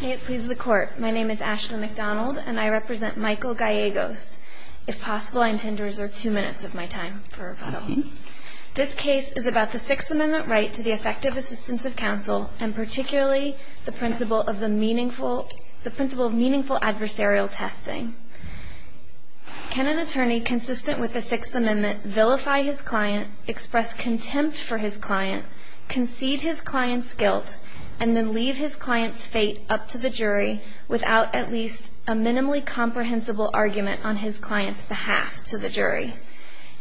May it please the court. My name is Ashley McDonald and I represent Michael Gallegos. If possible, I intend to reserve two minutes of my time for rebuttal. This case is about the Sixth Amendment right to the effective assistance of counsel and particularly the principle of meaningful adversarial testing. Can an attorney consistent with the Sixth Amendment vilify his client, and then leave his client's fate up to the jury without at least a minimally comprehensible argument on his client's behalf to the jury?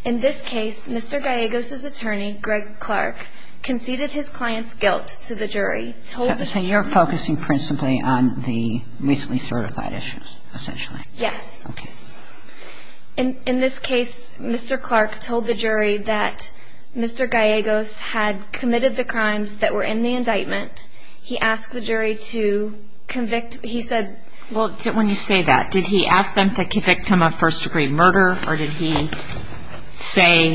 In this case, Mr. Gallegos' attorney, Greg Clark, conceded his client's guilt to the jury. So you're focusing principally on the recently certified issues, essentially? Yes. Okay. In this case, Mr. Clark told the jury that Mr. Gallegos had committed the crimes that were in the indictment. He asked the jury to convict, he said... Well, when you say that, did he ask them to convict him of first-degree murder, or did he say,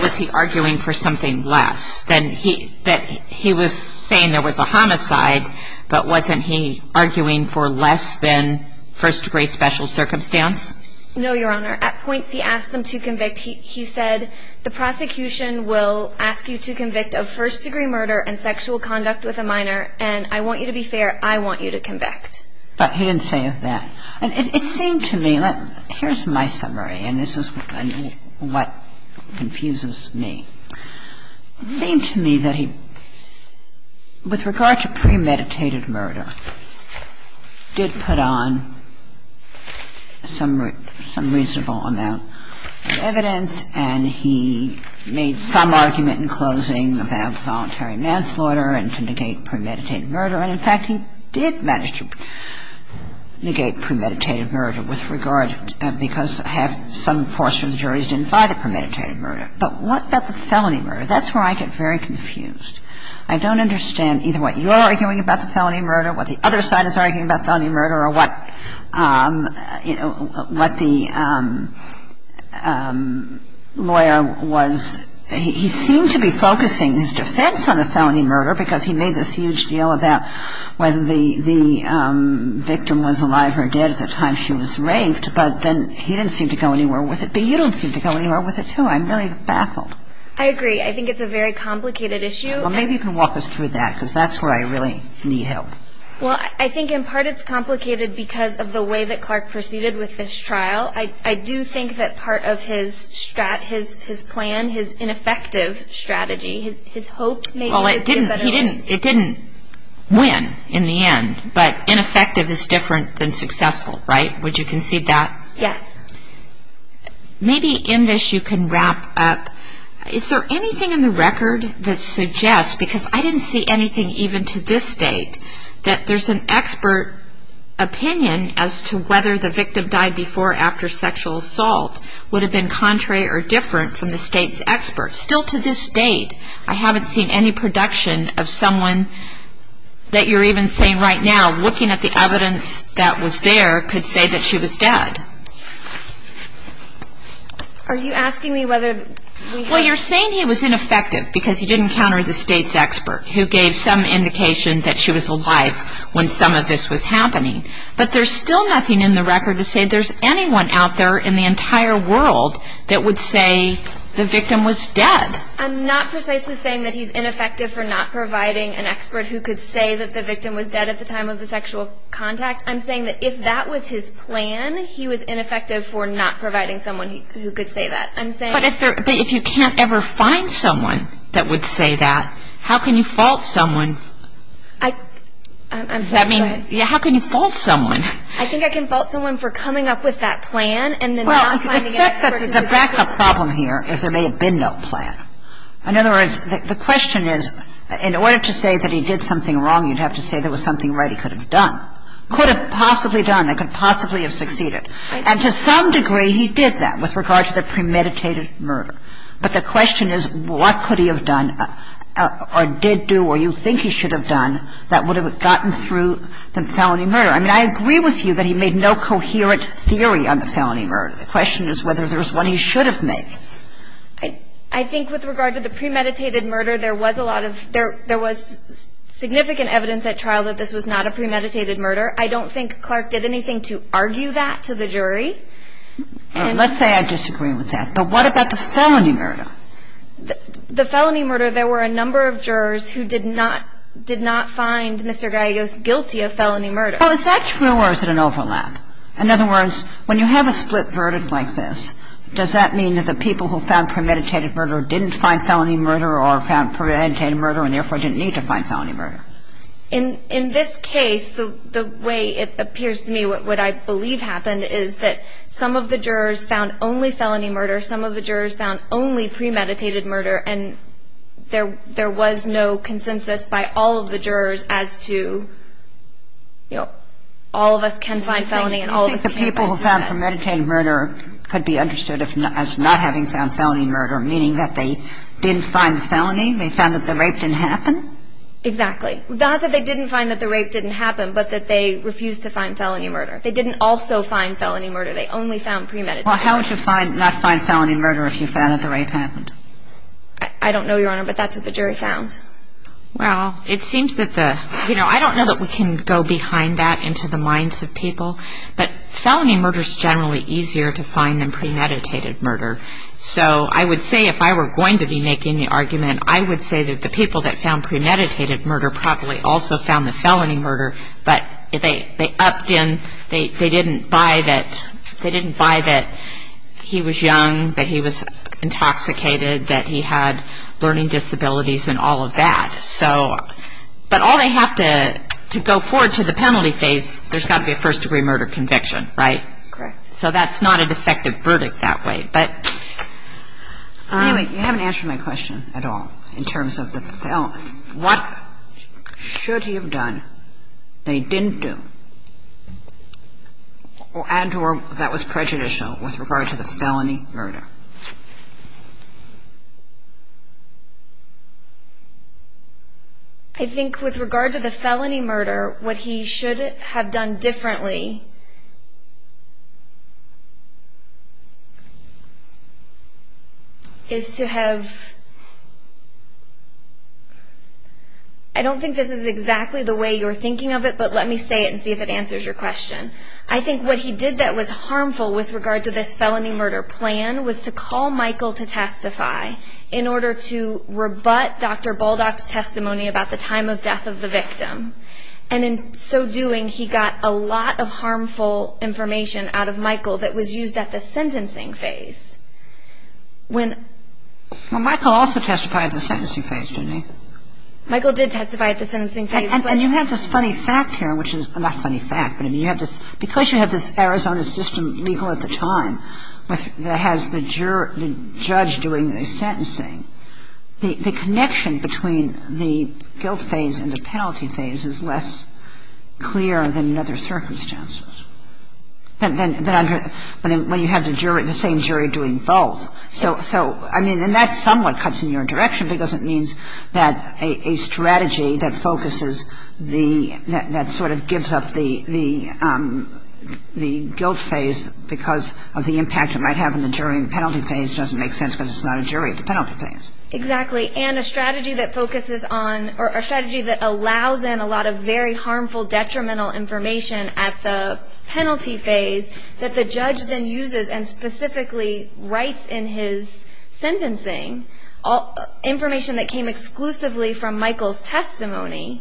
was he arguing for something less? That he was saying there was a homicide, but wasn't he arguing for less than first-degree special circumstance? No, Your Honor. At points he asked them to convict. He said the prosecution will ask you to convict of first-degree murder and sexual conduct with a minor, and I want you to be fair, I want you to convict. But he didn't say that. It seemed to me, here's my summary, and this is what confuses me. It seemed to me that he, with regard to premeditated murder, did put on some reasonable amount of evidence, and he made some argument in closing about voluntary manslaughter and to negate premeditated murder. And, in fact, he did manage to negate premeditated murder with regard to – because some portions of the juries didn't buy the premeditated murder. But what about the felony murder? That's where I get very confused. I don't understand either what you're arguing about the felony murder, what the other side is arguing about felony murder, or what the lawyer was – he seemed to be focusing his defense on the felony murder because he made this huge deal about whether the victim was alive or dead at the time she was raped, but then he didn't seem to go anywhere with it. But you don't seem to go anywhere with it, too. I'm really baffled. I agree. I think it's a very complicated issue. Well, maybe you can walk us through that because that's where I really need help. Well, I think in part it's complicated because of the way that Clark proceeded with this trial. I do think that part of his plan, his ineffective strategy, his hope – Well, it didn't win in the end, but ineffective is different than successful, right? Would you concede that? Yes. Maybe in this you can wrap up. Is there anything in the record that suggests, because I didn't see anything even to this date, that there's an expert opinion as to whether the victim died before or after sexual assault would have been contrary or different from the state's experts. Still to this date, I haven't seen any production of someone that you're even saying right now, looking at the evidence that was there, could say that she was dead. Are you asking me whether – Well, you're saying he was ineffective because he didn't counter the state's expert, who gave some indication that she was alive when some of this was happening. But there's still nothing in the record to say there's anyone out there in the entire world that would say the victim was dead. I'm not precisely saying that he's ineffective for not providing an expert who could say that the victim was dead at the time of the sexual contact. I'm saying that if that was his plan, he was ineffective for not providing someone who could say that. I'm saying – But if you can't ever find someone that would say that, how can you fault someone – I – Does that mean – How can you fault someone? I think I can fault someone for coming up with that plan and then not finding an expert to do it. Well, except that the backup problem here is there may have been no plan. In other words, the question is, in order to say that he did something wrong, you'd have to say there was something right he could have done. Could have possibly done and could possibly have succeeded. And to some degree, he did that with regard to the premeditated murder. But the question is, what could he have done or did do or you think he should have done that would have gotten through the felony murder? I mean, I agree with you that he made no coherent theory on the felony murder. The question is whether there's one he should have made. I think with regard to the premeditated murder, there was a lot of – there was significant evidence at trial that this was not a premeditated murder. I don't think Clark did anything to argue that to the jury. Let's say I disagree with that. But what about the felony murder? The felony murder, there were a number of jurors who did not – did not find Mr. Gallegos guilty of felony murder. Well, is that true or is it an overlap? In other words, when you have a split verdict like this, does that mean that the people who found premeditated murder didn't find felony murder or found premeditated murder and therefore didn't need to find felony murder? In this case, the way it appears to me what I believe happened is that some of the jurors found only felony murder. Some of the jurors found only premeditated murder. And there was no consensus by all of the jurors as to, you know, all of us can find felony and all of us can't find premeditated murder. I think the people who found premeditated murder could be understood as not having found felony murder, meaning that they didn't find felony. They found that the rape didn't happen. Exactly. Not that they didn't find that the rape didn't happen, but that they refused to find felony murder. They didn't also find felony murder. They only found premeditated. Well, how would you not find felony murder if you found that the rape happened? I don't know, Your Honor, but that's what the jury found. Well, it seems that the – you know, I don't know that we can go behind that into the minds of people, but felony murder is generally easier to find than premeditated murder. So I would say if I were going to be making the argument, I would say that the people that found premeditated murder probably also found the felony murder, but they upped in – they didn't buy that he was young, that he was intoxicated, that he had learning disabilities and all of that. So – but all they have to go forward to the penalty phase, there's got to be a first-degree murder conviction, right? Correct. So that's not a defective verdict that way. But anyway, you haven't answered my question at all in terms of the felon. What should he have done that he didn't do and or that was prejudicial with regard to the felony murder? I think with regard to the felony murder, what he should have done differently is to have – I don't think this is exactly the way you're thinking of it, but let me say it and see if it answers your question. I think what he did that was harmful with regard to this felony murder plan was to call Michael to testify in order to rebut Dr. Baldock's testimony about the time of death of the victim. And in so doing, he got a lot of harmful information out of Michael that was used at the sentencing phase. Well, Michael also testified at the sentencing phase, didn't he? Michael did testify at the sentencing phase. And you have this funny fact here, which is – not funny fact, but I mean you have this – because you have this Arizona system legal at the time that has the judge doing the sentencing, the connection between the guilt phase and the penalty phase is less clear than in other circumstances. When you have the same jury doing both. So, I mean, and that somewhat cuts in your direction because it means that a strategy that focuses the – because of the impact it might have on the jury in the penalty phase doesn't make sense because it's not a jury at the penalty phase. Exactly. And a strategy that focuses on – or a strategy that allows in a lot of very harmful detrimental information at the penalty phase that the judge then uses and specifically writes in his sentencing, information that came exclusively from Michael's testimony,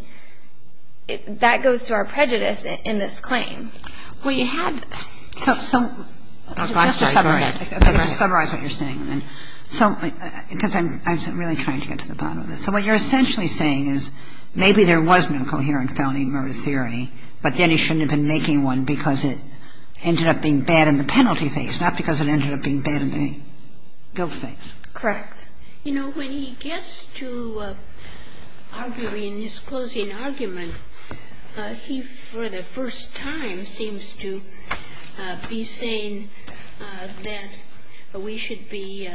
that goes to our prejudice in this claim. Well, you have – Just to summarize what you're saying. Because I'm really trying to get to the bottom of this. So what you're essentially saying is maybe there was no coherent founding of a theory, but then he shouldn't have been making one because it ended up being bad in the penalty phase, not because it ended up being bad in the guilt phase. Correct. You know, when he gets to arguing his closing argument, he for the first time seems to be saying that we should be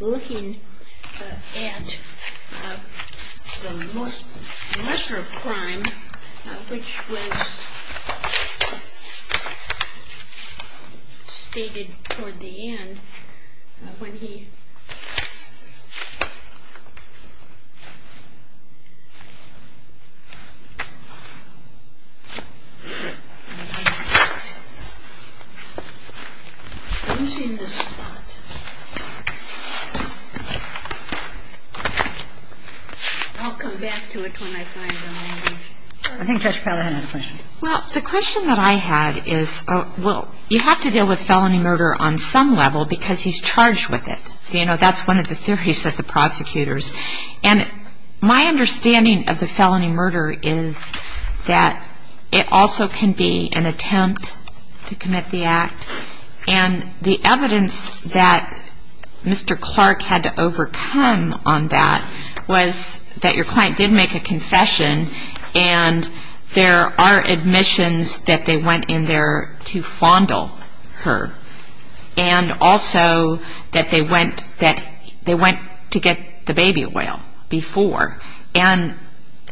looking at the lesser crime, which was stated toward the end when he – I'm losing the spot. I'll come back to it when I find it. I think Judge Peller had a question. Well, the question that I had is, well, you have to deal with felony murder on some level because he's charged with it. You know, that's one of the theories that the prosecutors – and my understanding of the felony murder is that it also can be an attempt to commit the act. And the evidence that Mr. Clark had to overcome on that was that your client did make a confession and there are admissions that they went in there to fondle her and also that they went to get the baby oil before. And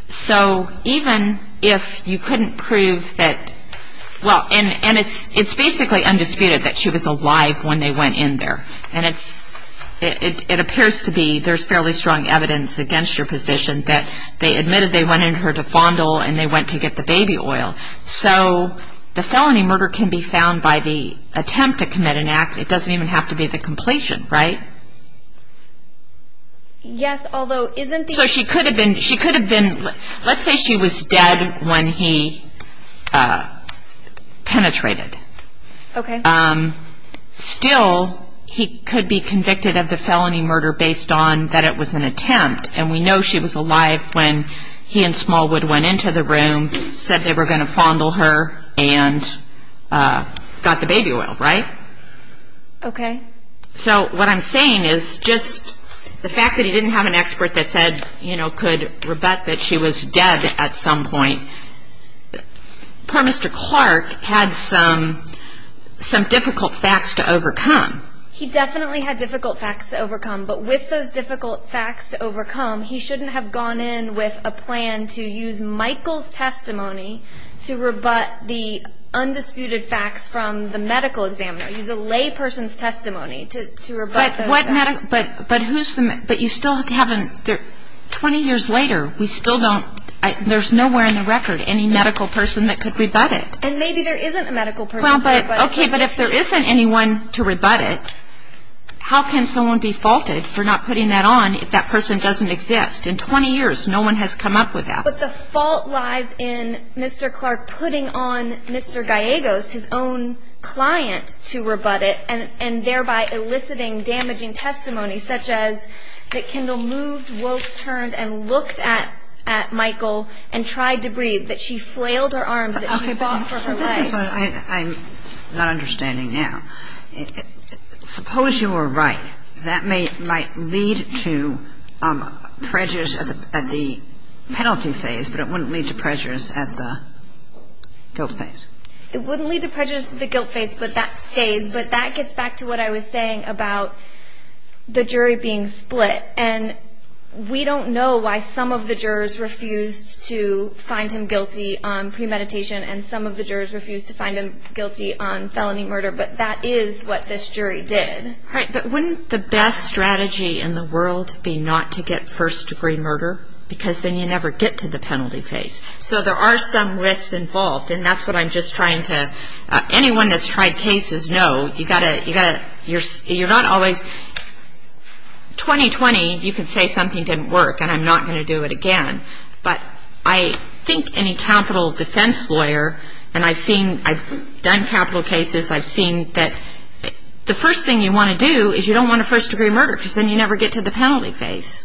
so even if you couldn't prove that – well, and it's basically undisputed that she was alive when they went in there. And it appears to be there's fairly strong evidence against your position that they admitted they went in there to fondle and they went to get the baby oil. So the felony murder can be found by the attempt to commit an act. It doesn't even have to be the completion, right? Yes, although isn't the – So she could have been – she could have been – let's say she was dead when he penetrated. Okay. Still, he could be convicted of the felony murder based on that it was an attempt. And we know she was alive when he and Smallwood went into the room, said they were going to fondle her, and got the baby oil, right? Okay. So what I'm saying is just the fact that he didn't have an expert that said, you know, could rebut that she was dead at some point, poor Mr. Clark had some difficult facts to overcome. He definitely had difficult facts to overcome. But with those difficult facts to overcome, he shouldn't have gone in with a plan to use Michael's testimony to rebut the undisputed facts from the medical examiner, to use a lay person's testimony to rebut those facts. But who's the – but you still have to have – 20 years later, we still don't – there's nowhere in the record any medical person that could rebut it. And maybe there isn't a medical person to rebut it. Okay, but if there isn't anyone to rebut it, how can someone be faulted for not putting that on if that person doesn't exist? In 20 years, no one has come up with that. But the fault lies in Mr. Clark putting on Mr. Gallegos, his own client, to rebut it and thereby eliciting damaging testimony, such as that Kendall moved, woke, turned, and looked at Michael and tried to breathe, that she flailed her arms, that she fought for her life. Okay, but this is what I'm not understanding now. Suppose you were right. That might lead to prejudice at the penalty phase, but it wouldn't lead to prejudice at the guilt phase. It wouldn't lead to prejudice at the guilt phase, but that phase. But that gets back to what I was saying about the jury being split. And we don't know why some of the jurors refused to find him guilty on premeditation and some of the jurors refused to find him guilty on felony murder. But that is what this jury did. Right, but wouldn't the best strategy in the world be not to get first-degree murder? Because then you never get to the penalty phase. So there are some risks involved, and that's what I'm just trying to – anyone that's tried cases knows you've got to – you're not always – 2020, you could say something didn't work, and I'm not going to do it again. But I think any capital defense lawyer – and I've seen – I've done capital cases. I've seen that the first thing you want to do is you don't want a first-degree murder because then you never get to the penalty phase.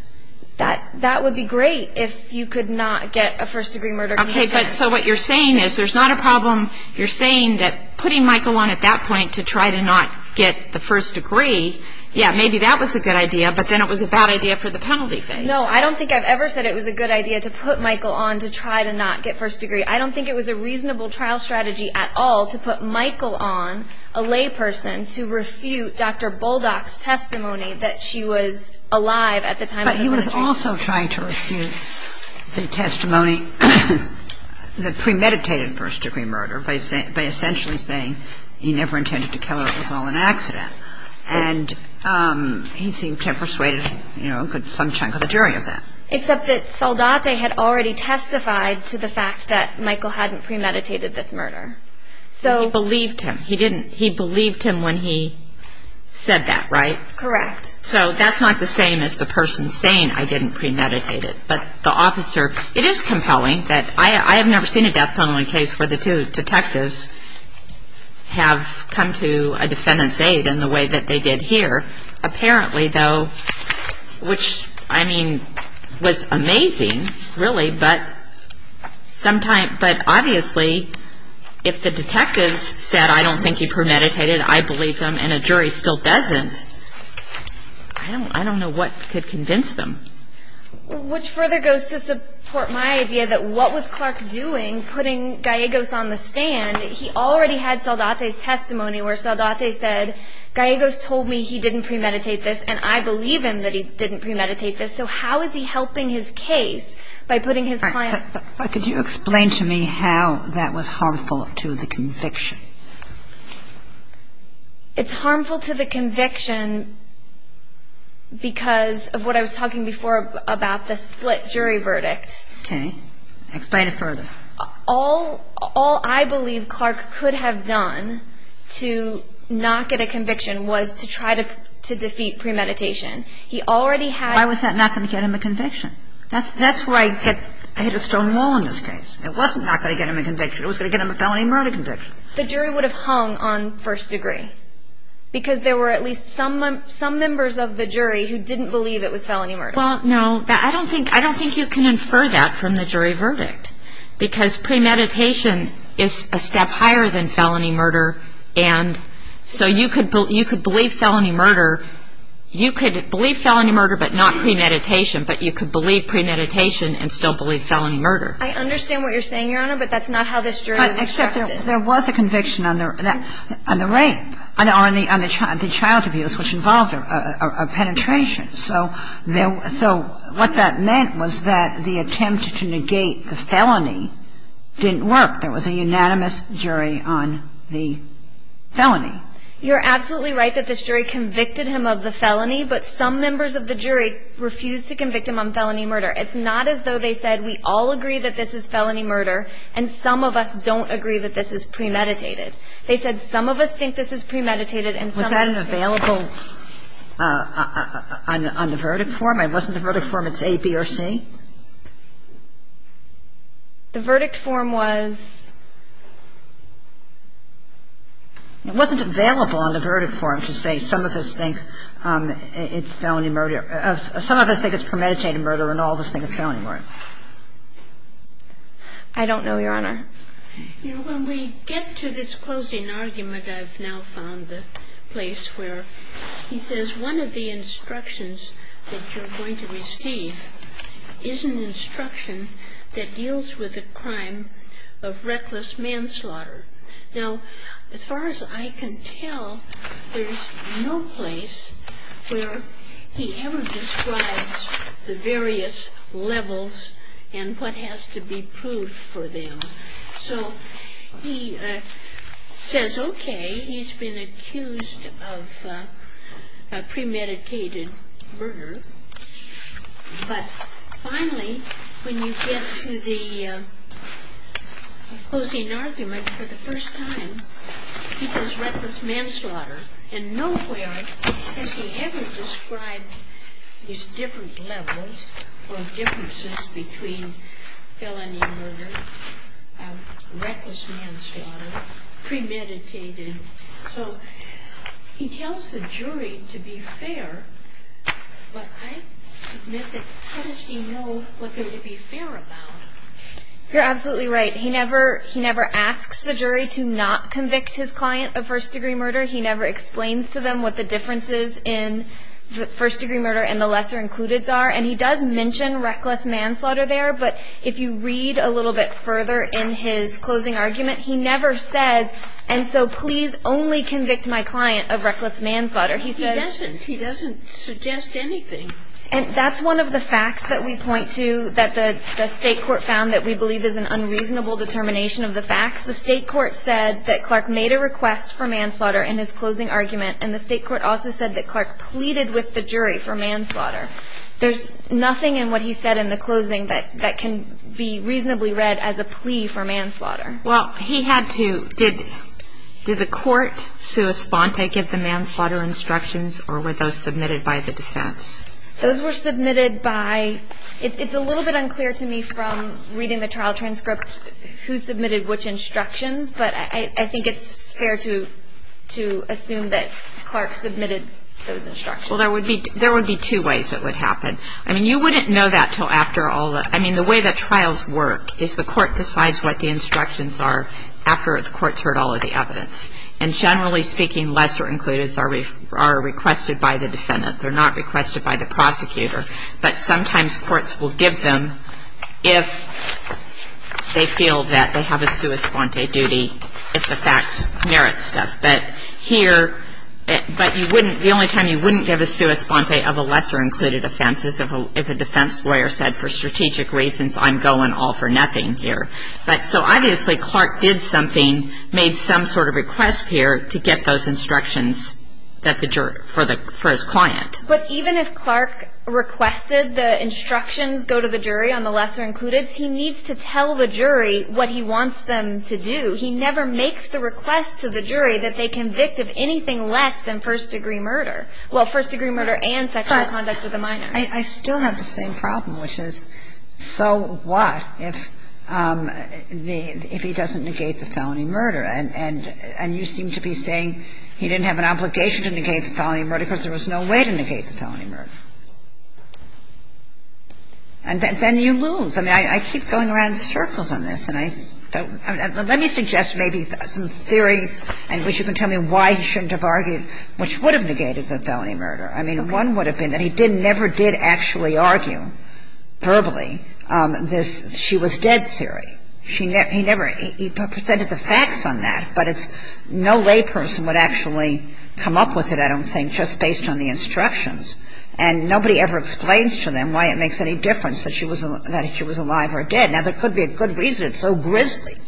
That would be great if you could not get a first-degree murder case. Okay, but so what you're saying is there's not a problem – you're saying that putting Michael on at that point to try to not get the first degree, yeah, maybe that was a good idea, but then it was a bad idea for the penalty phase. No, I don't think I've ever said it was a good idea to put Michael on to try to not get first degree. I don't think it was a reasonable trial strategy at all to put Michael on, a layperson, to refute Dr. Boldock's testimony that she was alive at the time of the murder. But he was also trying to refute the testimony – the premeditated first-degree murder by essentially saying he never intended to kill her, it was all an accident. And he seemed to have persuaded, you know, some chunk of the jury of that. Except that Saldate had already testified to the fact that Michael hadn't premeditated this murder. He believed him. He believed him when he said that, right? Correct. So that's not the same as the person saying, I didn't premeditate it. But the officer – it is compelling that – I have never seen a death penalty case where the two detectives have come to a defendant's aid in the way that they did here. Apparently, though, which, I mean, was amazing, really. But obviously, if the detectives said, I don't think he premeditated, I believe him, and a jury still doesn't, I don't know what could convince them. Which further goes to support my idea that what was Clark doing, putting Gallegos on the stand? He already had Saldate's testimony where Saldate said, Gallegos told me he didn't premeditate this, and I believe him that he didn't premeditate this. So how is he helping his case by putting his client – Could you explain to me how that was harmful to the conviction? It's harmful to the conviction because of what I was talking before about the split jury verdict. Okay. Explain it further. All I believe Clark could have done to not get a conviction was to try to defeat premeditation. He already had – Why was that not going to get him a conviction? That's where I hit a stone wall in this case. It wasn't not going to get him a conviction. It was going to get him a felony murder conviction. The jury would have hung on first degree because there were at least some members of the jury who didn't believe it was felony murder. Well, no. I don't think – I don't think you can infer that from the jury verdict because premeditation is a step higher than felony murder. And so you could believe felony murder. You could believe felony murder but not premeditation, but you could believe premeditation and still believe felony murder. I understand what you're saying, Your Honor, but that's not how this jury was extracted. Except there was a conviction on the rape or on the child abuse which involved a penetration. So what that meant was that the attempt to negate the felony didn't work. There was a unanimous jury on the felony. You're absolutely right that this jury convicted him of the felony, but some members of the jury refused to convict him on felony murder. It's not as though they said we all agree that this is felony murder and some of us don't agree that this is premeditated. They said some of us think this is premeditated and some of us don't. Was that available on the verdict form? It wasn't the verdict form, it's A, B, or C? The verdict form was... It wasn't available on the verdict form to say some of us think it's felony murder. Some of us think it's premeditated murder and all of us think it's felony murder. I don't know, Your Honor. When we get to this closing argument, I've now found the place where he says one of the instructions that you're going to receive is an instruction that deals with the crime of reckless manslaughter. Now, as far as I can tell, there's no place where he ever describes the various levels and what has to be proved for them. So he says, okay, he's been accused of premeditated murder, but finally, when you get to the closing argument for the first time, he says reckless manslaughter. And nowhere has he ever described these different levels or differences between felony murder, reckless manslaughter, premeditated. So he tells the jury to be fair, but I submit that how does he know what to be fair about? You're absolutely right. He never asks the jury to not convict his client of first-degree murder. He never explains to them what the differences in first-degree murder and the lesser-includeds are. And he does mention reckless manslaughter there, but if you read a little bit further in his closing argument, he never says, and so please only convict my client of reckless manslaughter. He doesn't. He doesn't suggest anything. And that's one of the facts that we point to that the State Court found that we believe is an unreasonable determination of the facts. The State Court said that Clark made a request for manslaughter in his closing argument, and the State Court also said that Clark pleaded with the jury for manslaughter. There's nothing in what he said in the closing that can be reasonably read as a plea for manslaughter. Well, he had to. Did the court correspond to give the manslaughter instructions, or were those submitted by the defense? Those were submitted by – it's a little bit unclear to me from reading the trial transcript who submitted which instructions, but I think it's fair to assume that Clark submitted those instructions. Well, there would be two ways it would happen. I mean, you wouldn't know that until after all the – I mean, the way that trials work is the court decides what the instructions are after the court's heard all of the evidence. And generally speaking, lesser-includeds are requested by the defendant. They're not requested by the prosecutor. But sometimes courts will give them if they feel that they have a sua sponte duty, if the facts merit stuff. But here – but you wouldn't – the only time you wouldn't give a sua sponte of a lesser-included offense is if a defense lawyer said for strategic reasons, I'm going all for nothing here. But so obviously Clark did something, made some sort of request here to get those instructions that the jury – for his client. But even if Clark requested the instructions go to the jury on the lesser-included, he needs to tell the jury what he wants them to do. He never makes the request to the jury that they convict of anything less than first degree murder. Well, first degree murder and sexual conduct with a minor. I still have the same problem, which is so what if the – if he doesn't negate the felony murder? And you seem to be saying he didn't have an obligation to negate the felony murder because there was no way to negate the felony murder. And then you lose. I mean, I keep going around in circles on this, and I don't – let me suggest maybe some theories in which you can tell me why he shouldn't have argued, which would have negated the felony murder. I mean, one would have been that he didn't – never did actually argue verbally this – she was dead theory. He never – he presented the facts on that, but it's – no lay person would actually come up with it, I don't think, just based on the instructions. And nobody ever explains to them why it makes any difference that she was alive or dead. Now, there could be a good reason. It's so grisly.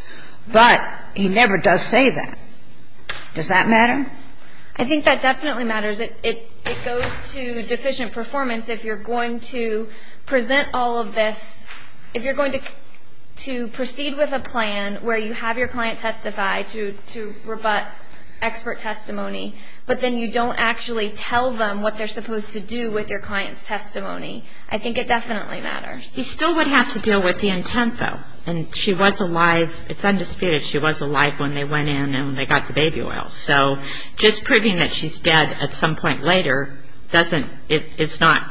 But he never does say that. Does that matter? I think that definitely matters. It goes to deficient performance if you're going to present all of this – if you're going to proceed with a plan where you have your client testify to rebut expert testimony, but then you don't actually tell them what they're supposed to do with your client's testimony. I think it definitely matters. He still would have to deal with the intent, though. And she was alive. It's undisputed she was alive when they went in and they got the baby oil. So just proving that she's dead at some point later doesn't – it's not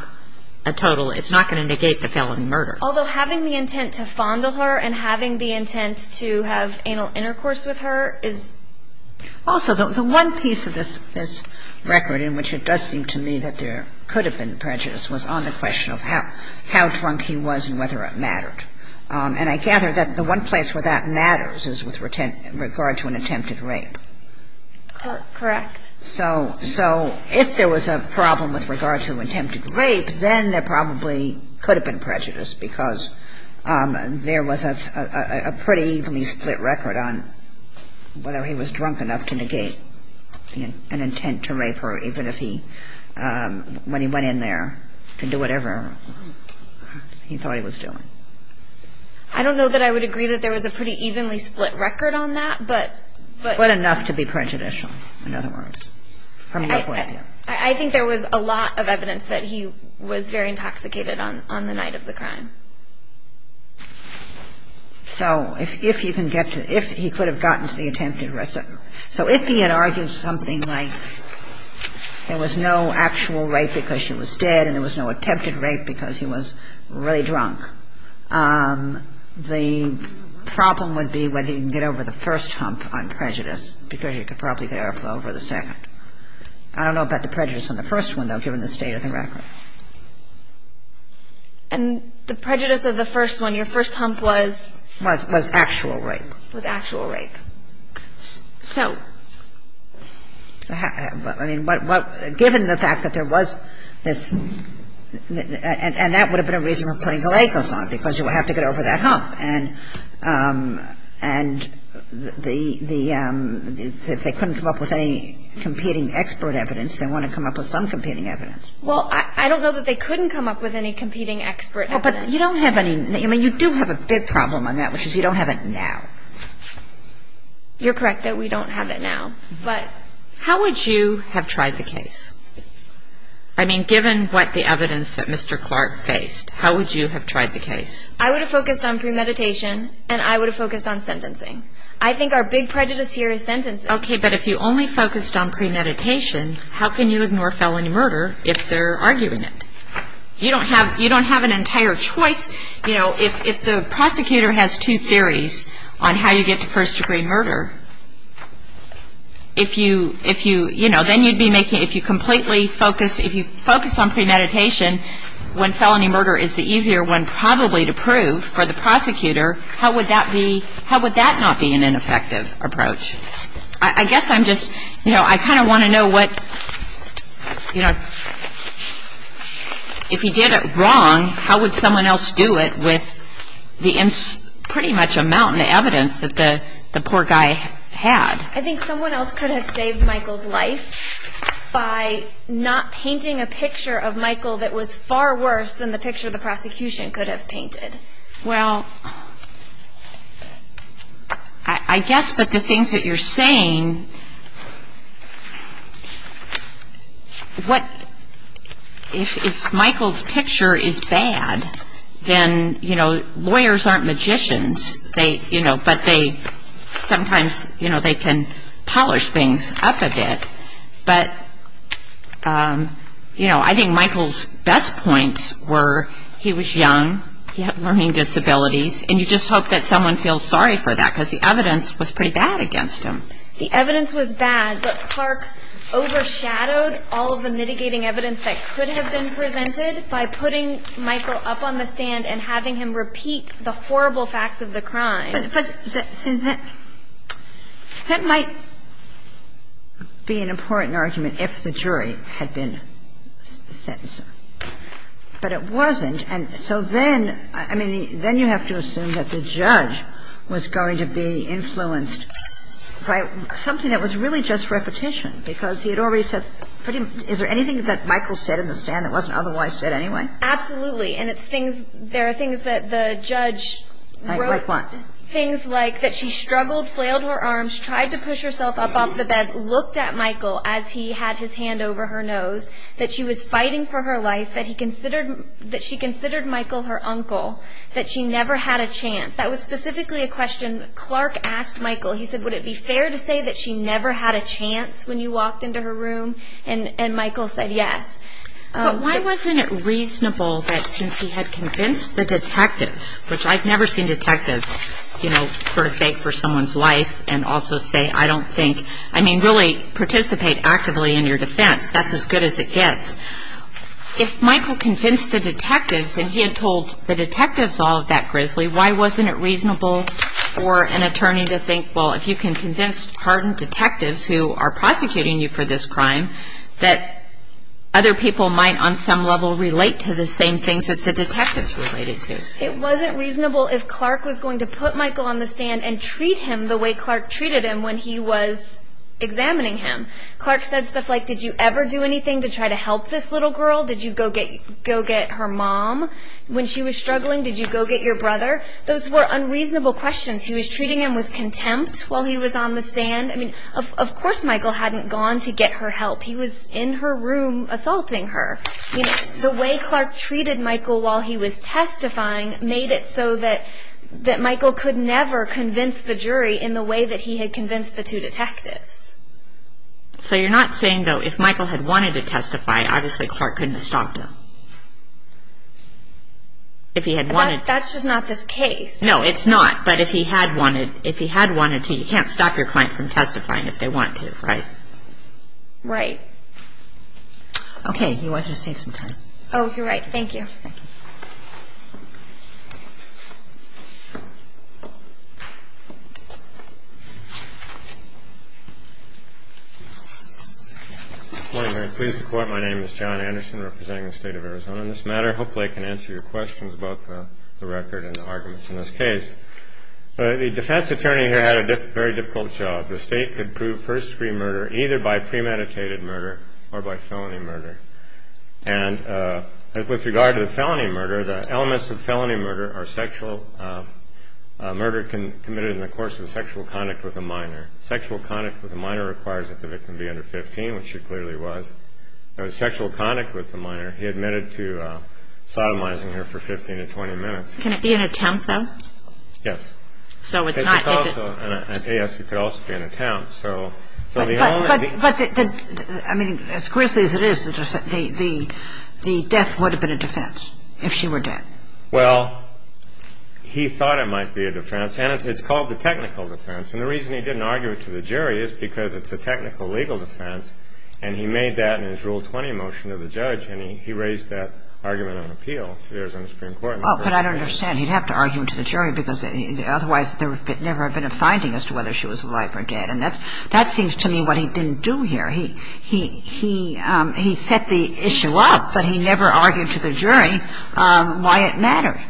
a total – it's not going to negate the felony murder. Although having the intent to fondle her and having the intent to have anal intercourse with her is – Also, the one piece of this record in which it does seem to me that there could have been prejudice was on the question of how drunk he was and whether it mattered. And I gather that the one place where that matters is with regard to an attempted rape. Correct. So if there was a problem with regard to an attempted rape, then there probably could have been prejudice because there was a pretty evenly split record on whether he was drunk enough to negate an intent to rape her, even if he – when he went in there to do whatever he thought he was doing. I don't know that I would agree that there was a pretty evenly split record on that, but – Split enough to be prejudicial, in other words, from your point of view. I think there was a lot of evidence that he was very intoxicated on the night of the crime. So if he can get to – if he could have gotten to the attempted rape – so if he had argued something like there was no actual rape because she was dead and there was no attempted rape because he was really drunk, the problem would be whether he can get over the first hump on prejudice because he could probably get airflow over the second. I don't know about the prejudice on the first one, though, given the state of the record. And the prejudice of the first one, your first hump was – Was actual rape. Was actual rape. So – I mean, given the fact that there was this – and that would have been a reason for putting a rake or something because you would have to get over that hump. And the – if they couldn't come up with any competing expert evidence, they want to come up with some competing evidence. Well, I don't know that they couldn't come up with any competing expert evidence. Well, but you don't have any – I mean, you do have a big problem on that, which is you don't have it now. You're correct that we don't have it now. But – How would you have tried the case? I mean, given what the evidence that Mr. Clark faced, how would you have tried the case? I would have focused on premeditation and I would have focused on sentencing. I think our big prejudice here is sentencing. Okay, but if you only focused on premeditation, how can you ignore felony murder if they're arguing it? You don't have an entire choice. You know, if the prosecutor has two theories on how you get to first-degree murder, if you – you know, then you'd be making – if you completely focus – if you focus on premeditation when felony murder is the easier one probably to prove for the prosecutor, how would that be – how would that not be an effective approach? I guess I'm just – you know, I kind of want to know what – you know, if he did it wrong, how would someone else do it with the pretty much amount of evidence that the poor guy had? I think someone else could have saved Michael's life by not painting a picture of Michael that was far worse than the picture the prosecution could have painted. Well, I guess with the things that you're saying, what – if Michael's picture is bad, then, you know, lawyers aren't magicians. They – you know, but they – sometimes, you know, they can polish things up a bit. But, you know, I think Michael's best points were he was young, he had learning disabilities, and you just hope that someone feels sorry for that because the evidence was pretty bad against him. The evidence was bad, but Clark overshadowed all of the mitigating evidence that could have been presented by putting Michael up on the stand and having him repeat the horrible facts of the crime. But since that – that might be an important argument if the jury had been sentencing. But it wasn't. And so then – I mean, then you have to assume that the judge was going to be influenced by something that was really just repetition because he had already said pretty – is there anything that Michael said in the stand that wasn't otherwise said anyway? Absolutely. And it's things – there are things that the judge wrote. Like what? Things like that she struggled, flailed her arms, tried to push herself up off the bed, looked at Michael as he had his hand over her nose, that she was fighting for her life, that he considered – that she considered Michael her uncle, that she never had a chance. That was specifically a question Clark asked Michael. He said, would it be fair to say that she never had a chance when you walked into her room? And Michael said yes. But why wasn't it reasonable that since he had convinced the detectives, which I've never seen detectives, you know, sort of beg for someone's life and also say, I don't think – I mean, really participate actively in your defense. That's as good as it gets. If Michael convinced the detectives and he had told the detectives all of that grisly, why wasn't it reasonable for an attorney to think, well, if you can convince hardened detectives who are prosecuting you for this crime, that other people might on some level relate to the same things that the detectives related to? It wasn't reasonable if Clark was going to put Michael on the stand and treat him the way Clark treated him when he was examining him. Clark said stuff like, did you ever do anything to try to help this little girl? Did you go get her mom? When she was struggling, did you go get your brother? Those were unreasonable questions. He was treating him with contempt while he was on the stand. I mean, of course Michael hadn't gone to get her help. He was in her room assaulting her. The way Clark treated Michael while he was testifying made it so that Michael could never convince the jury in the way that he had convinced the two detectives. So you're not saying, though, if Michael had wanted to testify, obviously Clark couldn't have stopped him? That's just not this case. No, it's not. But if he had wanted to, you can't stop your client from testifying if they want to, right? Right. Okay. You wanted to save some time. Oh, you're right. Thank you. Thank you. Good morning, Mary. Pleased to court. My name is John Anderson representing the State of Arizona. In this matter, hopefully I can answer your questions about the record and the arguments in this case. The defense attorney here had a very difficult job. The state could prove first-degree murder either by premeditated murder or by felony murder. And with regard to the felony murder, the elements of felony murder are sexual murder committed in the course of sexual conduct with a minor. Sexual conduct with a minor requires that the victim be under 15, which she clearly was. There was sexual conduct with a minor. He admitted to sodomizing her for 15 to 20 minutes. Can it be an attempt, though? Yes. So it's not. Yes, it could also be an attempt. But, I mean, as grisly as it is, the death would have been a defense if she were dead. Well, he thought it might be a defense. And it's called the technical defense. And the reason he didn't argue it to the jury is because it's a technical legal defense. And he made that in his Rule 20 motion to the judge. And he raised that argument on appeal. It appears on the Supreme Court. But I don't understand. I mean, he'd have to argue it to the jury because otherwise there would never have been a finding as to whether she was alive or dead. And that seems to me what he didn't do here. He set the issue up, but he never argued to the jury why it mattered.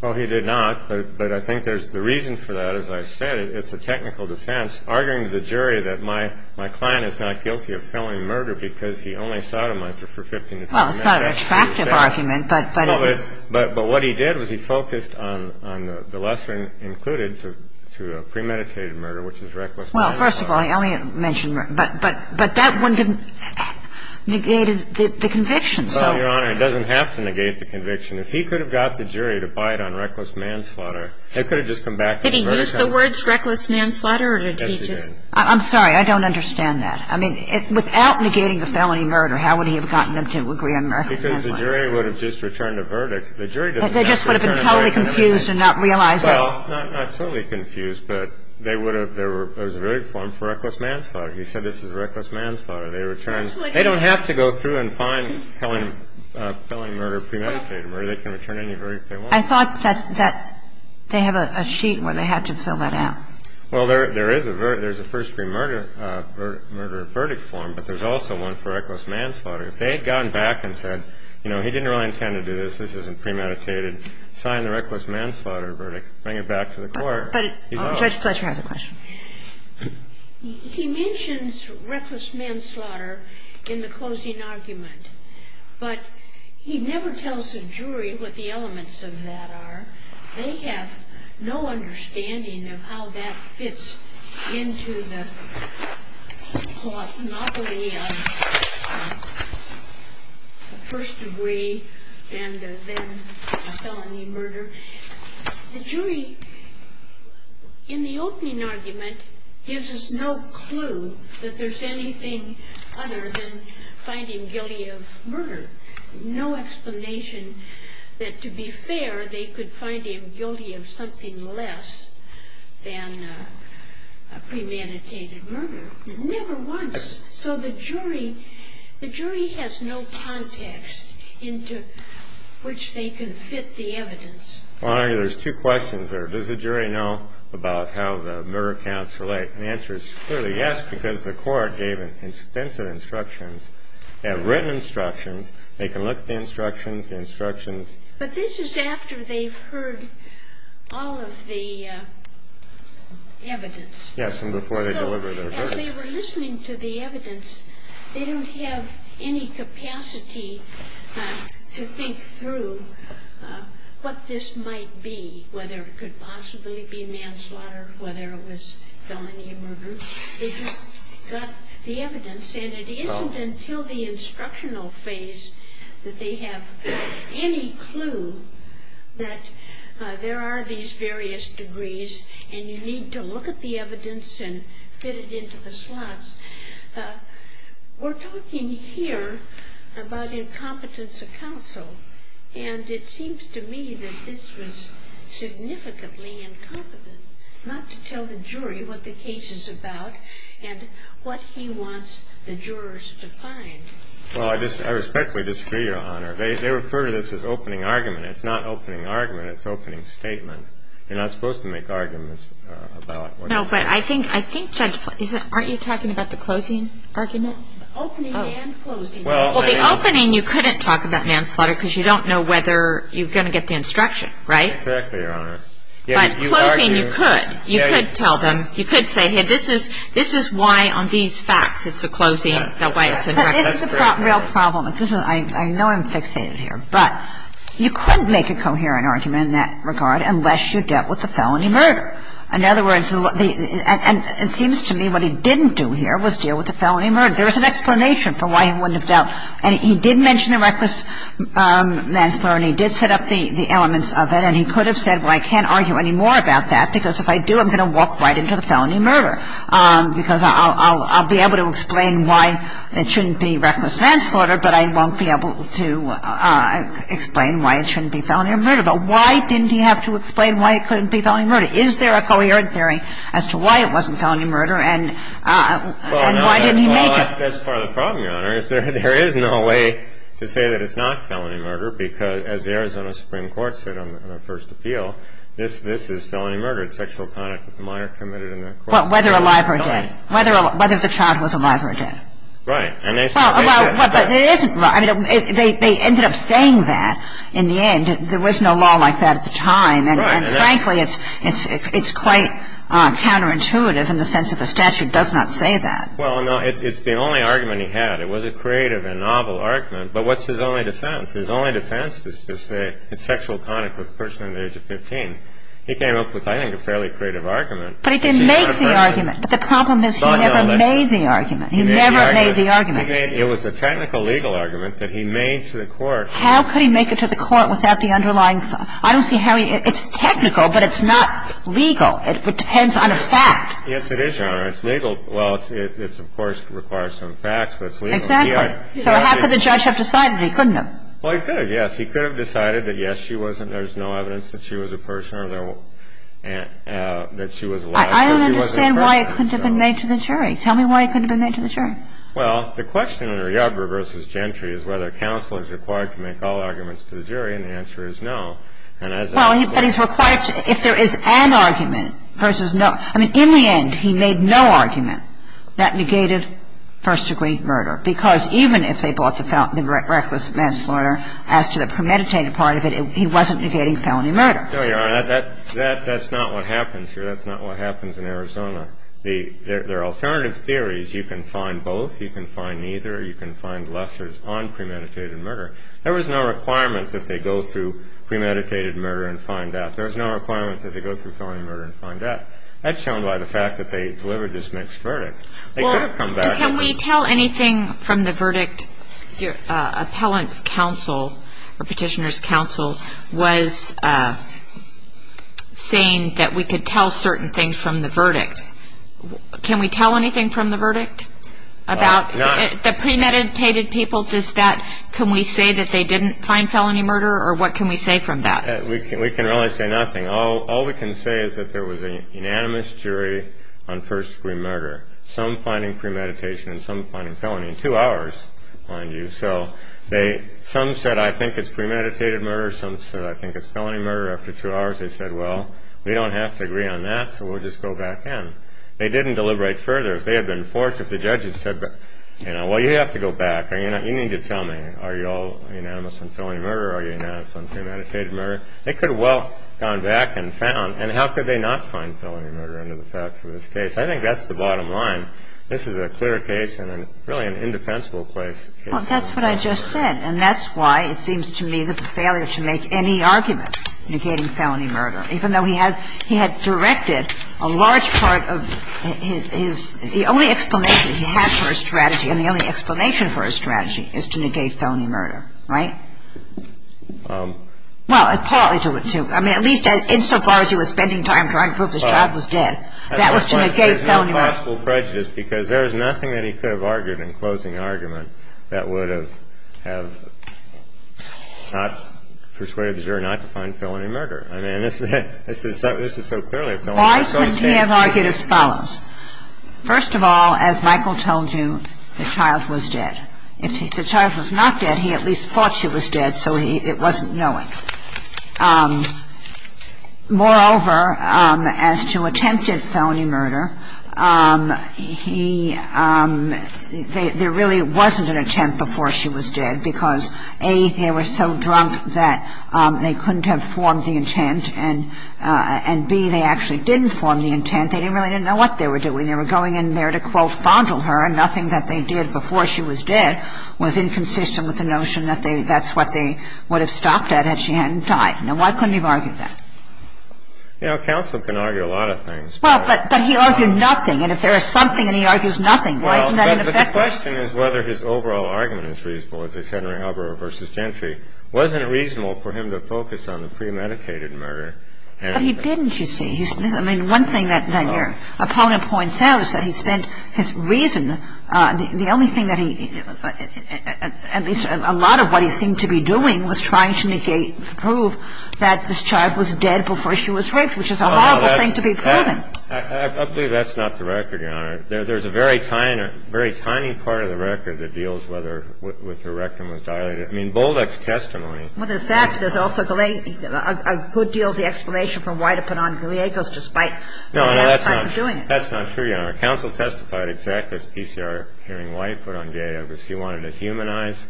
Well, he did not. But I think there's the reason for that. As I said, it's a technical defense, arguing to the jury that my client is not guilty of felony murder because he only sodomized her for 15 to 20 minutes. Well, it's not an attractive argument. But what he did was he focused on the lesser included to premeditated murder, which is reckless manslaughter. Well, first of all, he only mentioned murder. But that one didn't negate the conviction. Well, Your Honor, it doesn't have to negate the conviction. If he could have got the jury to buy it on reckless manslaughter, it could have just come back to the murder case. Did he use the words reckless manslaughter or did he just? Yes, he did. I'm sorry. I don't understand that. I mean, without negating the felony murder, how would he have gotten them to agree on reckless manslaughter? Because the jury would have just returned a verdict. The jury doesn't have to return a verdict. They just would have been totally confused and not realized it. Well, not totally confused, but they would have. There was a verdict form for reckless manslaughter. He said this is reckless manslaughter. They return. They don't have to go through and find felony murder premeditated murder. They can return any verdict they want. I thought that they have a sheet where they have to fill that out. Well, there is a first-degree murder verdict form, but there's also one for reckless manslaughter. If they had gotten back and said, you know, he didn't really intend to do this. This isn't premeditated. Sign the reckless manslaughter verdict. Bring it back to the court. But Judge Fletcher has a question. He mentions reckless manslaughter in the closing argument, but he never tells the jury what the elements of that are. They have no understanding of how that fits into the monopoly of first-degree and then felony murder. The jury, in the opening argument, gives us no clue that there's anything other than finding guilty of murder. No explanation that, to be fair, they could find him guilty of something less than premeditated murder. Never once. So the jury has no context into which they can fit the evidence. Well, I argue there's two questions there. Does the jury know about how the murder counts relate? And the answer is clearly yes, because the court gave extensive instructions, written instructions. They can look at the instructions, the instructions. But this is after they've heard all of the evidence. Yes, and before they deliver their verdict. So as they were listening to the evidence, they don't have any capacity to think through what this might be, whether it could possibly be manslaughter, whether it was felony murder. They just got the evidence, and it isn't until the instructional phase that they have any clue that there are these various degrees, and you need to look at the evidence and fit it into the slots. We're talking here about incompetence of counsel, and it seems to me that this was a case where the jury was not able to find out what the jury was talking about and what he wants the jurors to find. Well, I respectfully disagree, Your Honor. They refer to this as opening argument. It's not opening argument. It's opening statement. You're not supposed to make arguments about what's going on. No, but I think that's why. Aren't you talking about the closing argument? Opening and closing. Well, the opening you couldn't talk about manslaughter, because you don't know whether you're going to get the instruction, right? Exactly, Your Honor. But closing you could. You could tell them. You could say, hey, this is why on these facts it's a closing, not why it's a manslaughter. But this is the real problem. I know I'm fixated here, but you couldn't make a coherent argument in that regard unless you dealt with the felony murder. In other words, it seems to me what he didn't do here was deal with the felony murder. There was an explanation for why he wouldn't have dealt. And he did mention the reckless manslaughter, and he did set up the elements of it, and he could have said, well, I can't argue any more about that, because if I do, I'm going to walk right into the felony murder, because I'll be able to explain why it shouldn't be reckless manslaughter, but I won't be able to explain why it shouldn't be felony murder. But why didn't he have to explain why it couldn't be felony murder? Is there a coherent theory as to why it wasn't felony murder, and why didn't he make But that's part of the problem, Your Honor, is there is no way to say that it's not felony murder, because as the Arizona Supreme Court said on the first appeal, this is felony murder. It's sexual conduct with a minor committed in that court. Well, whether alive or dead. Whether the child was alive or dead. Right. Well, but it isn't. They ended up saying that in the end. There was no law like that at the time. And frankly, it's quite counterintuitive in the sense that the statute does not say that. Well, no, it's the only argument he had. It was a creative and novel argument. But what's his only defense? His only defense is to say it's sexual conduct with a person under the age of 15. He came up with, I think, a fairly creative argument. But he didn't make the argument. But the problem is he never made the argument. He never made the argument. It was a technical legal argument that he made to the court. How could he make it to the court without the underlying – I don't see how he – it's technical, but it's not legal. It depends on a fact. Yes, it is, Your Honor. It's legal. Well, it's, of course, requires some facts, but it's legal. Exactly. So how could the judge have decided he couldn't have? Well, he could, yes. He could have decided that, yes, she wasn't – there's no evidence that she was a person or that she was alive. I don't understand why it couldn't have been made to the jury. Tell me why it couldn't have been made to the jury. Well, the question under Yarbrough v. Gentry is whether counsel is required to make all arguments to the jury. And the answer is no. And as a – Well, but he's required – if there is an argument versus no – I mean, in the end, he made no argument that negated first-degree murder, because even if they brought the reckless manslaughter as to the premeditated part of it, he wasn't negating felony murder. No, Your Honor. That's not what happens here. That's not what happens in Arizona. There are alternative theories. You can find both. You can find neither. You can find lessors on premeditated murder. There was no requirement that they go through premeditated murder and find that. There was no requirement that they go through felony murder and find that. That's shown by the fact that they delivered this mixed verdict. They could have come back and – Well, can we tell anything from the verdict? Appellant's counsel or Petitioner's counsel was saying that we could tell certain things from the verdict. Can we tell anything from the verdict about the premeditated people? Can we say that they didn't find felony murder, or what can we say from that? We can really say nothing. All we can say is that there was an unanimous jury on first-degree murder, some finding premeditation and some finding felony in two hours, mind you. So some said, I think it's premeditated murder. Some said, I think it's felony murder. After two hours, they said, well, we don't have to agree on that, so we'll just go back in. They didn't deliberate further. If they had been forced, if the judges said, well, you have to go back or you need to tell me, are you all unanimous on felony murder or are you unanimous on premeditated murder, they could have well gone back and found. And how could they not find felony murder under the facts of this case? I think that's the bottom line. This is a clear case and really an indefensible case. Well, that's what I just said. And that's why it seems to me that the failure to make any argument negating felony murder, even though he had directed a large part of his – the only explanation he had for his strategy and the only explanation for his strategy is to negate felony murder, right? Well, partly to – I mean, at least insofar as he was spending time trying to prove his child was dead, that was to negate felony murder. There's no possible prejudice because there is nothing that he could have argued in closing argument that would have have not persuaded the jury not to find felony murder. I mean, this is so clearly a felony murder case. Why couldn't he have argued as follows? First of all, as Michael told you, the child was dead. If the child was not dead, he at least thought she was dead, so it wasn't knowing. Moreover, as to attempted felony murder, he – there really wasn't an attempt because, A, they were so drunk that they couldn't have formed the intent, and, B, they actually didn't form the intent. They didn't really know what they were doing. They were going in there to, quote, fondle her, and nothing that they did before she was dead was inconsistent with the notion that they – that's what they would have stopped at had she hadn't died. Now, why couldn't he have argued that? You know, counsel can argue a lot of things. Well, but he argued nothing. And if there is something and he argues nothing, why isn't that an effect? But the question is whether his overall argument is reasonable. If it's Henry Hubbard v. Gentry, wasn't it reasonable for him to focus on the premeditated murder? But he didn't, you see. I mean, one thing that your opponent points out is that he spent his reason – the only thing that he – at least a lot of what he seemed to be doing was trying to negate – prove that this child was dead before she was raped, which is a horrible thing to be proving. I believe that's not the record, Your Honor. There's a very tiny – very tiny part of the record that deals whether – with her rectum was dilated. I mean, Bolduck's testimony – Well, there's that. There's also a good deal of the explanation for why to put on Galeagos, despite the other sides of doing it. No, no, that's not true, Your Honor. Counsel testified exactly to PCR hearing why he put on Galeagos. He wanted to humanize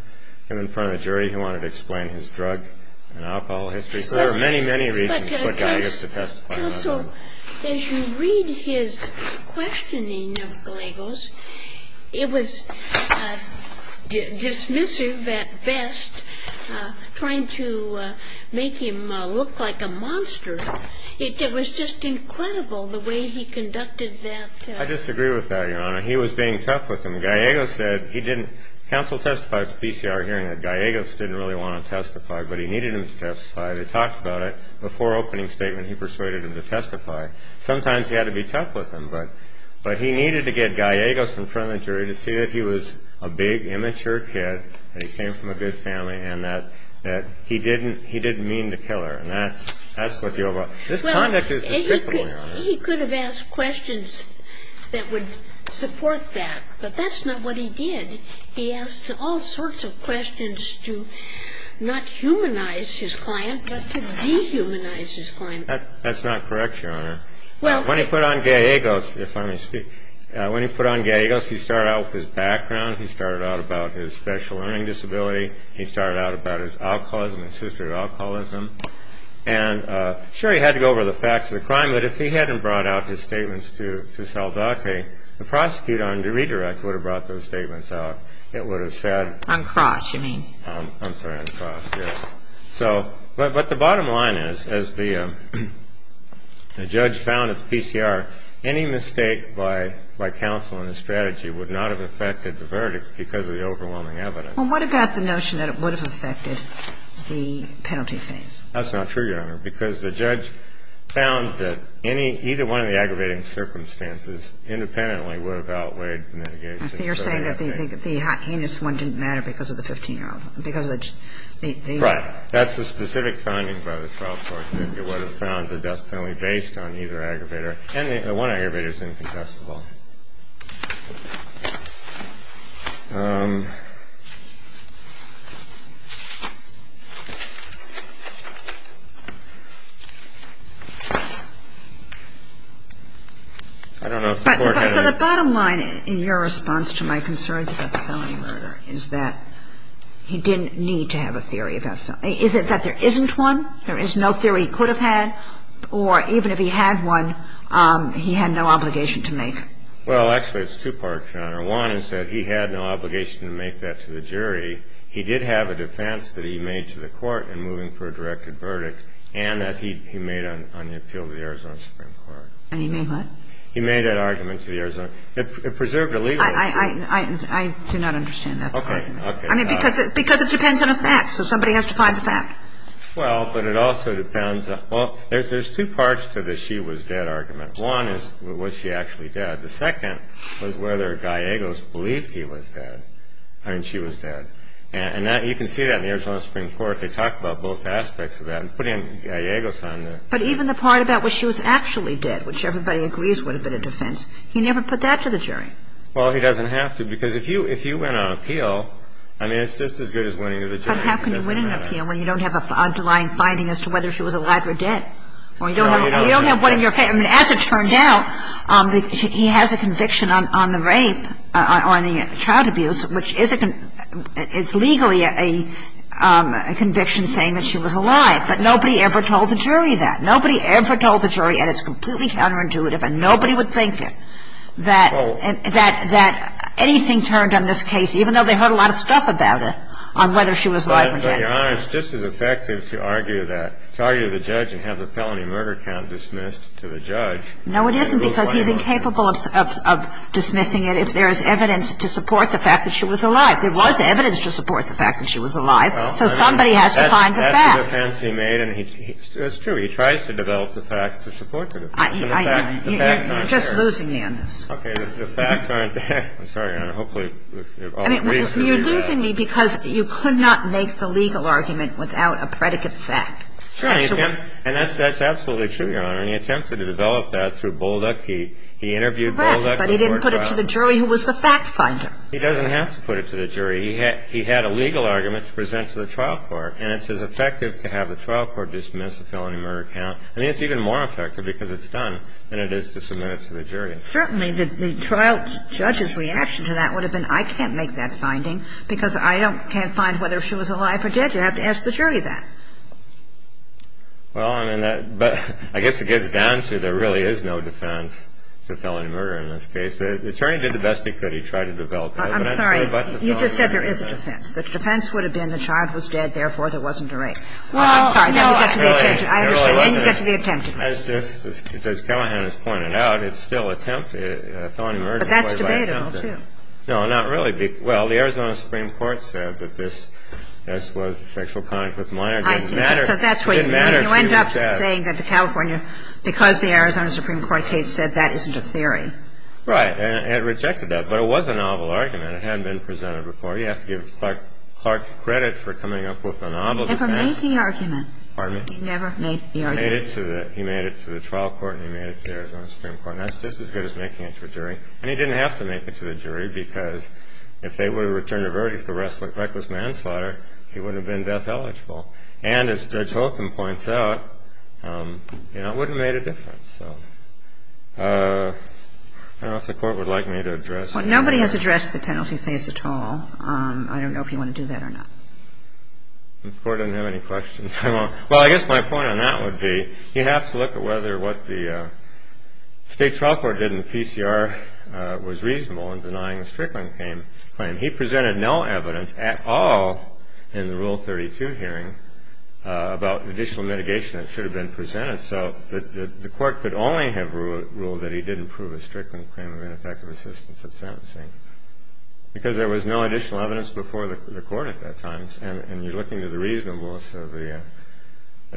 him in front of the jury. He wanted to explain his drug and alcohol history. So there are many, many reasons to put Galeagos to testify. Counsel, as you read his questioning of Galeagos, it was dismissive at best, trying to make him look like a monster. It was just incredible the way he conducted that. I disagree with that, Your Honor. He was being tough with him. Galeagos said he didn't – counsel testified to PCR hearing that Galeagos didn't really want to testify, but he needed him to testify. They talked about it. Before opening statement, he persuaded him to testify. Sometimes he had to be tough with him, but he needed to get Galeagos in front of the jury to see that he was a big, immature kid, that he came from a good family, and that he didn't mean to kill her. And that's what the overall – this conduct is descriptible, Your Honor. Well, he could have asked questions that would support that, but that's not what he did. He asked all sorts of questions to not humanize his client, but to dehumanize his client. That's not correct, Your Honor. When he put on Galeagos, if I may speak – when he put on Galeagos, he started out with his background. He started out about his special learning disability. He started out about his alcoholism, his history of alcoholism. And, sure, he had to go over the facts of the crime, but if he hadn't brought out his statements to Saldate, the prosecutor under redirect would have brought those statements out. It would have said – On cross, you mean. I'm sorry, on cross, yes. So – but the bottom line is, as the judge found at the PCR, any mistake by counsel in the strategy would not have affected the verdict because of the overwhelming evidence. Well, what about the notion that it would have affected the penalty phase? That's not true, Your Honor. Because the judge found that any – either one of the aggravating circumstances independently would have outweighed the mitigation. So you're saying that the heinous one didn't matter because of the 15-year-old, because of the – Right. That's the specific finding by the trial court, that it would have found the death penalty based on either aggravator, and the one aggravator is incontestable. I don't know if the Court had any – So the bottom line in your response to my concerns about the felony murder is that he didn't need to have a theory about – is it that there isn't one? There is no theory he could have had? Or even if he had one, he had no obligation to make? Well, actually, it's two parts, Your Honor. One is that he had no obligation to make that to the jury. He did have a defense that he made to the court in moving for a directed verdict, and that he made on the appeal to the Arizona Supreme Court. And he made what? He made that argument to the Arizona – it preserved the legal – I do not understand that argument. Okay. Okay. I mean, because it depends on a fact, so somebody has to find the fact. Well, but it also depends – well, there's two parts to the she was dead argument. One is was she actually dead. The second was whether Gallegos believed he was dead – I mean, she was dead. And that – you can see that in the Arizona Supreme Court. I don't know if they talk about both aspects of that. Putting Gallegos on the – But even the part about was she was actually dead, which everybody agrees would have been a defense, he never put that to the jury. Well, he doesn't have to, because if you – if you went on appeal, I mean, it's just as good as going to the jury. It doesn't matter. But how can you win an appeal when you don't have an underlying finding as to whether she was alive or dead? Or you don't have – you don't have one of your – I mean, as it turned out, he has a conviction on the rape or on the child abuse, which is a – it's legally a conviction saying that she was alive. But nobody ever told the jury that. Nobody ever told the jury, and it's completely counterintuitive, and nobody would think it, that anything turned on this case, even though they heard a lot of stuff about it, on whether she was alive or dead. But, Your Honor, it's just as effective to argue that – to argue to the judge and have the felony murder count dismissed to the judge. No, it isn't, because he's incapable of dismissing it. If there is evidence to support the fact that she was alive, there was evidence to support the fact that she was alive. So somebody has to find the fact. That's the defense he made, and he – it's true. He tries to develop the facts to support the defense. I know. The facts aren't there. You're just losing me on this. Okay. The facts aren't there. I'm sorry, Your Honor. Hopefully all three of us agree with that. I mean, you're losing me because you could not make the legal argument without a predicate fact. Sure. And that's absolutely true, Your Honor. And he attempted to develop that through Bolduc. He interviewed Bolduc. But he didn't put it to the jury who was the fact finder. He doesn't have to put it to the jury. He had a legal argument to present to the trial court, and it's as effective to have the trial court dismiss the felony murder count. I mean, it's even more effective because it's done than it is to submit it to the jury. Certainly, the trial judge's reaction to that would have been, I can't make that finding because I can't find whether she was alive or dead. You have to ask the jury that. Well, I mean, that – but I guess it gets down to there really is no defense to felony murder in this case. The attorney did the best he could. He tried to develop it. I'm sorry. You just said there is a defense. The defense would have been the child was dead, therefore there wasn't a rape. Well, no. I'm sorry. I understand. Then you get to the attempted murder. As just – as Callahan has pointed out, it's still attempted. Felony murder is still attempted. But that's debatable, too. No, not really. Well, the Arizona Supreme Court said that this was sexual conduct with minor. It didn't matter. So that's what you mean. You end up saying that the California – because the Arizona Supreme Court case said that isn't a theory. Right. And it rejected that. But it was a novel argument. It hadn't been presented before. You have to give Clark credit for coming up with a novel defense. And for making the argument. Pardon me? He never made the argument. He made it to the trial court and he made it to the Arizona Supreme Court. And that's just as good as making it to a jury. And he didn't have to make it to the jury because if they would have returned a verdict for reckless manslaughter, he wouldn't have been death eligible. And as Judge Hotham points out, you know, it wouldn't have made a difference. So I don't know if the Court would like me to address that. Well, nobody has addressed the penalty phase at all. I don't know if you want to do that or not. The Court doesn't have any questions. Well, I guess my point on that would be you have to look at whether what the state trial court did in the PCR was reasonable in denying a Strickland claim. He presented no evidence at all in the Rule 32 hearing about additional mitigation that should have been presented. So the Court could only have ruled that he didn't prove a Strickland claim of ineffective assistance at sentencing because there was no additional evidence before the Court at that time. And you're looking to the reasonableness of the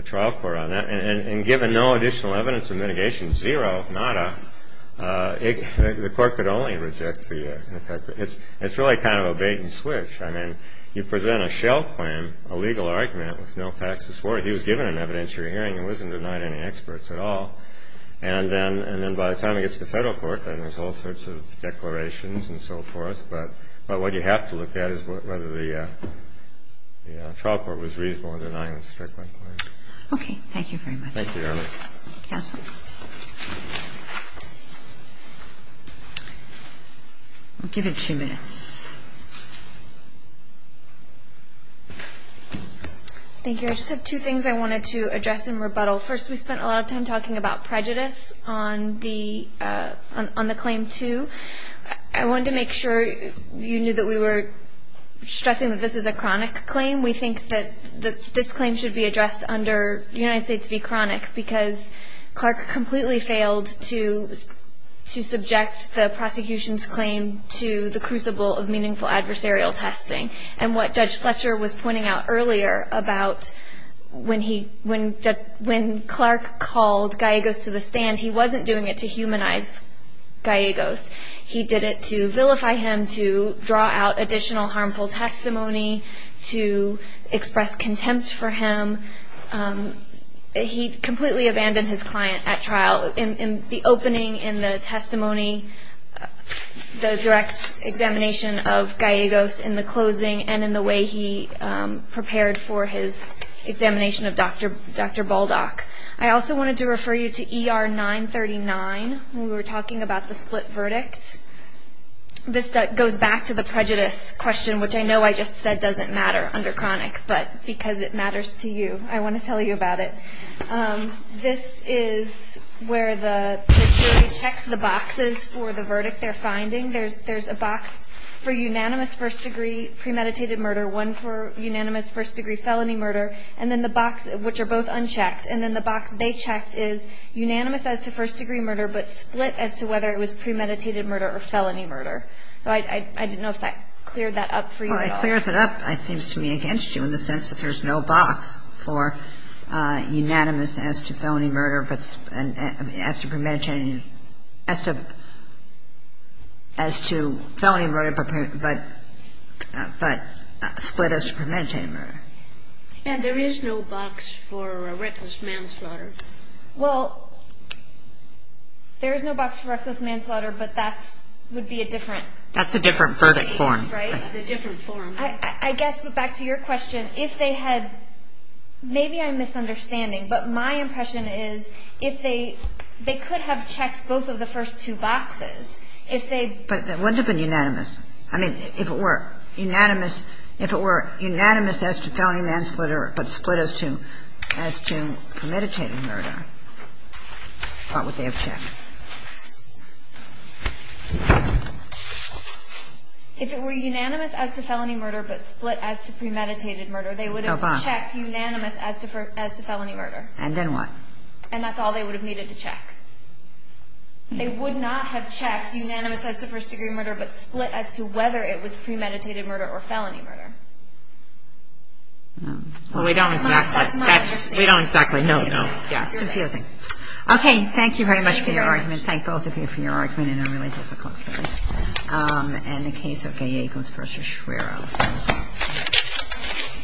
trial court on that. And given no additional evidence of mitigation, zero, nada, the Court could only reject the effect. It's really kind of a bait-and-switch. I mean, you present a shell claim, a legal argument, with no facts to support it. He was given an evidentiary hearing and wasn't denied any experts at all. And then by the time he gets to federal court, then there's all sorts of declarations and so forth. But what you have to look at is whether the trial court was reasonable in denying the Strickland claim. Okay. Thank you very much. Thank you, Your Honor. Counsel. We'll give it two minutes. Thank you. I just have two things I wanted to address in rebuttal. First, we spent a lot of time talking about prejudice on the claim 2. I wanted to make sure you knew that we were stressing that this is a chronic claim. We think that this claim should be addressed under United States v. Chronic because Clark completely failed to subject the prosecution's claim to the crucible of meaningful adversarial testing. And what Judge Fletcher was pointing out earlier about when Clark called Gallegos to the stand, he wasn't doing it to humanize Gallegos. He did it to vilify him, to draw out additional harmful testimony, to express contempt for him. He completely abandoned his client at trial. In the opening, in the testimony, the direct examination of Gallegos in the closing and in the way he prepared for his examination of Dr. Baldock. I also wanted to refer you to ER 939 when we were talking about the split verdict. This goes back to the prejudice question, which I know I just said doesn't matter under chronic, but because it matters to you, I want to tell you about it. This is where the jury checks the boxes for the verdict they're finding. There's a box for unanimous first-degree premeditated murder, one for unanimous first-degree felony murder, and then the box, which are both unchecked, and then the box they checked is unanimous as to first-degree murder, but split as to whether it was premeditated murder or felony murder. So I didn't know if that cleared that up for you at all. Kagan. Well, it clears it up, it seems to me, against you in the sense that there's no box for unanimous as to felony murder, but split as to premeditated murder. And there is no box for reckless manslaughter. Well, there is no box for reckless manslaughter, but that would be a different case, right? That's a different verdict form. A different form. I guess, but back to your question, if they had – maybe I'm misunderstanding, but my impression is if they – they could have checked both of the first two boxes. If they – But wouldn't it have been unanimous? I mean, if it were unanimous – if it were unanimous as to felony manslaughter, but split as to premeditated murder, what would they have checked? If it were unanimous as to felony murder, but split as to premeditated murder, they would have checked unanimous as to felony murder. And then what? And that's all they would have needed to check. They would not have checked unanimous as to first-degree murder, but split as to whether it was premeditated murder or felony murder. Well, we don't exactly – we don't exactly know, no. Yeah, it's confusing. Okay, thank you very much for your argument. Thank both of you for your argument in a really difficult case. And the case of Gallegos versus Schwerer, of course.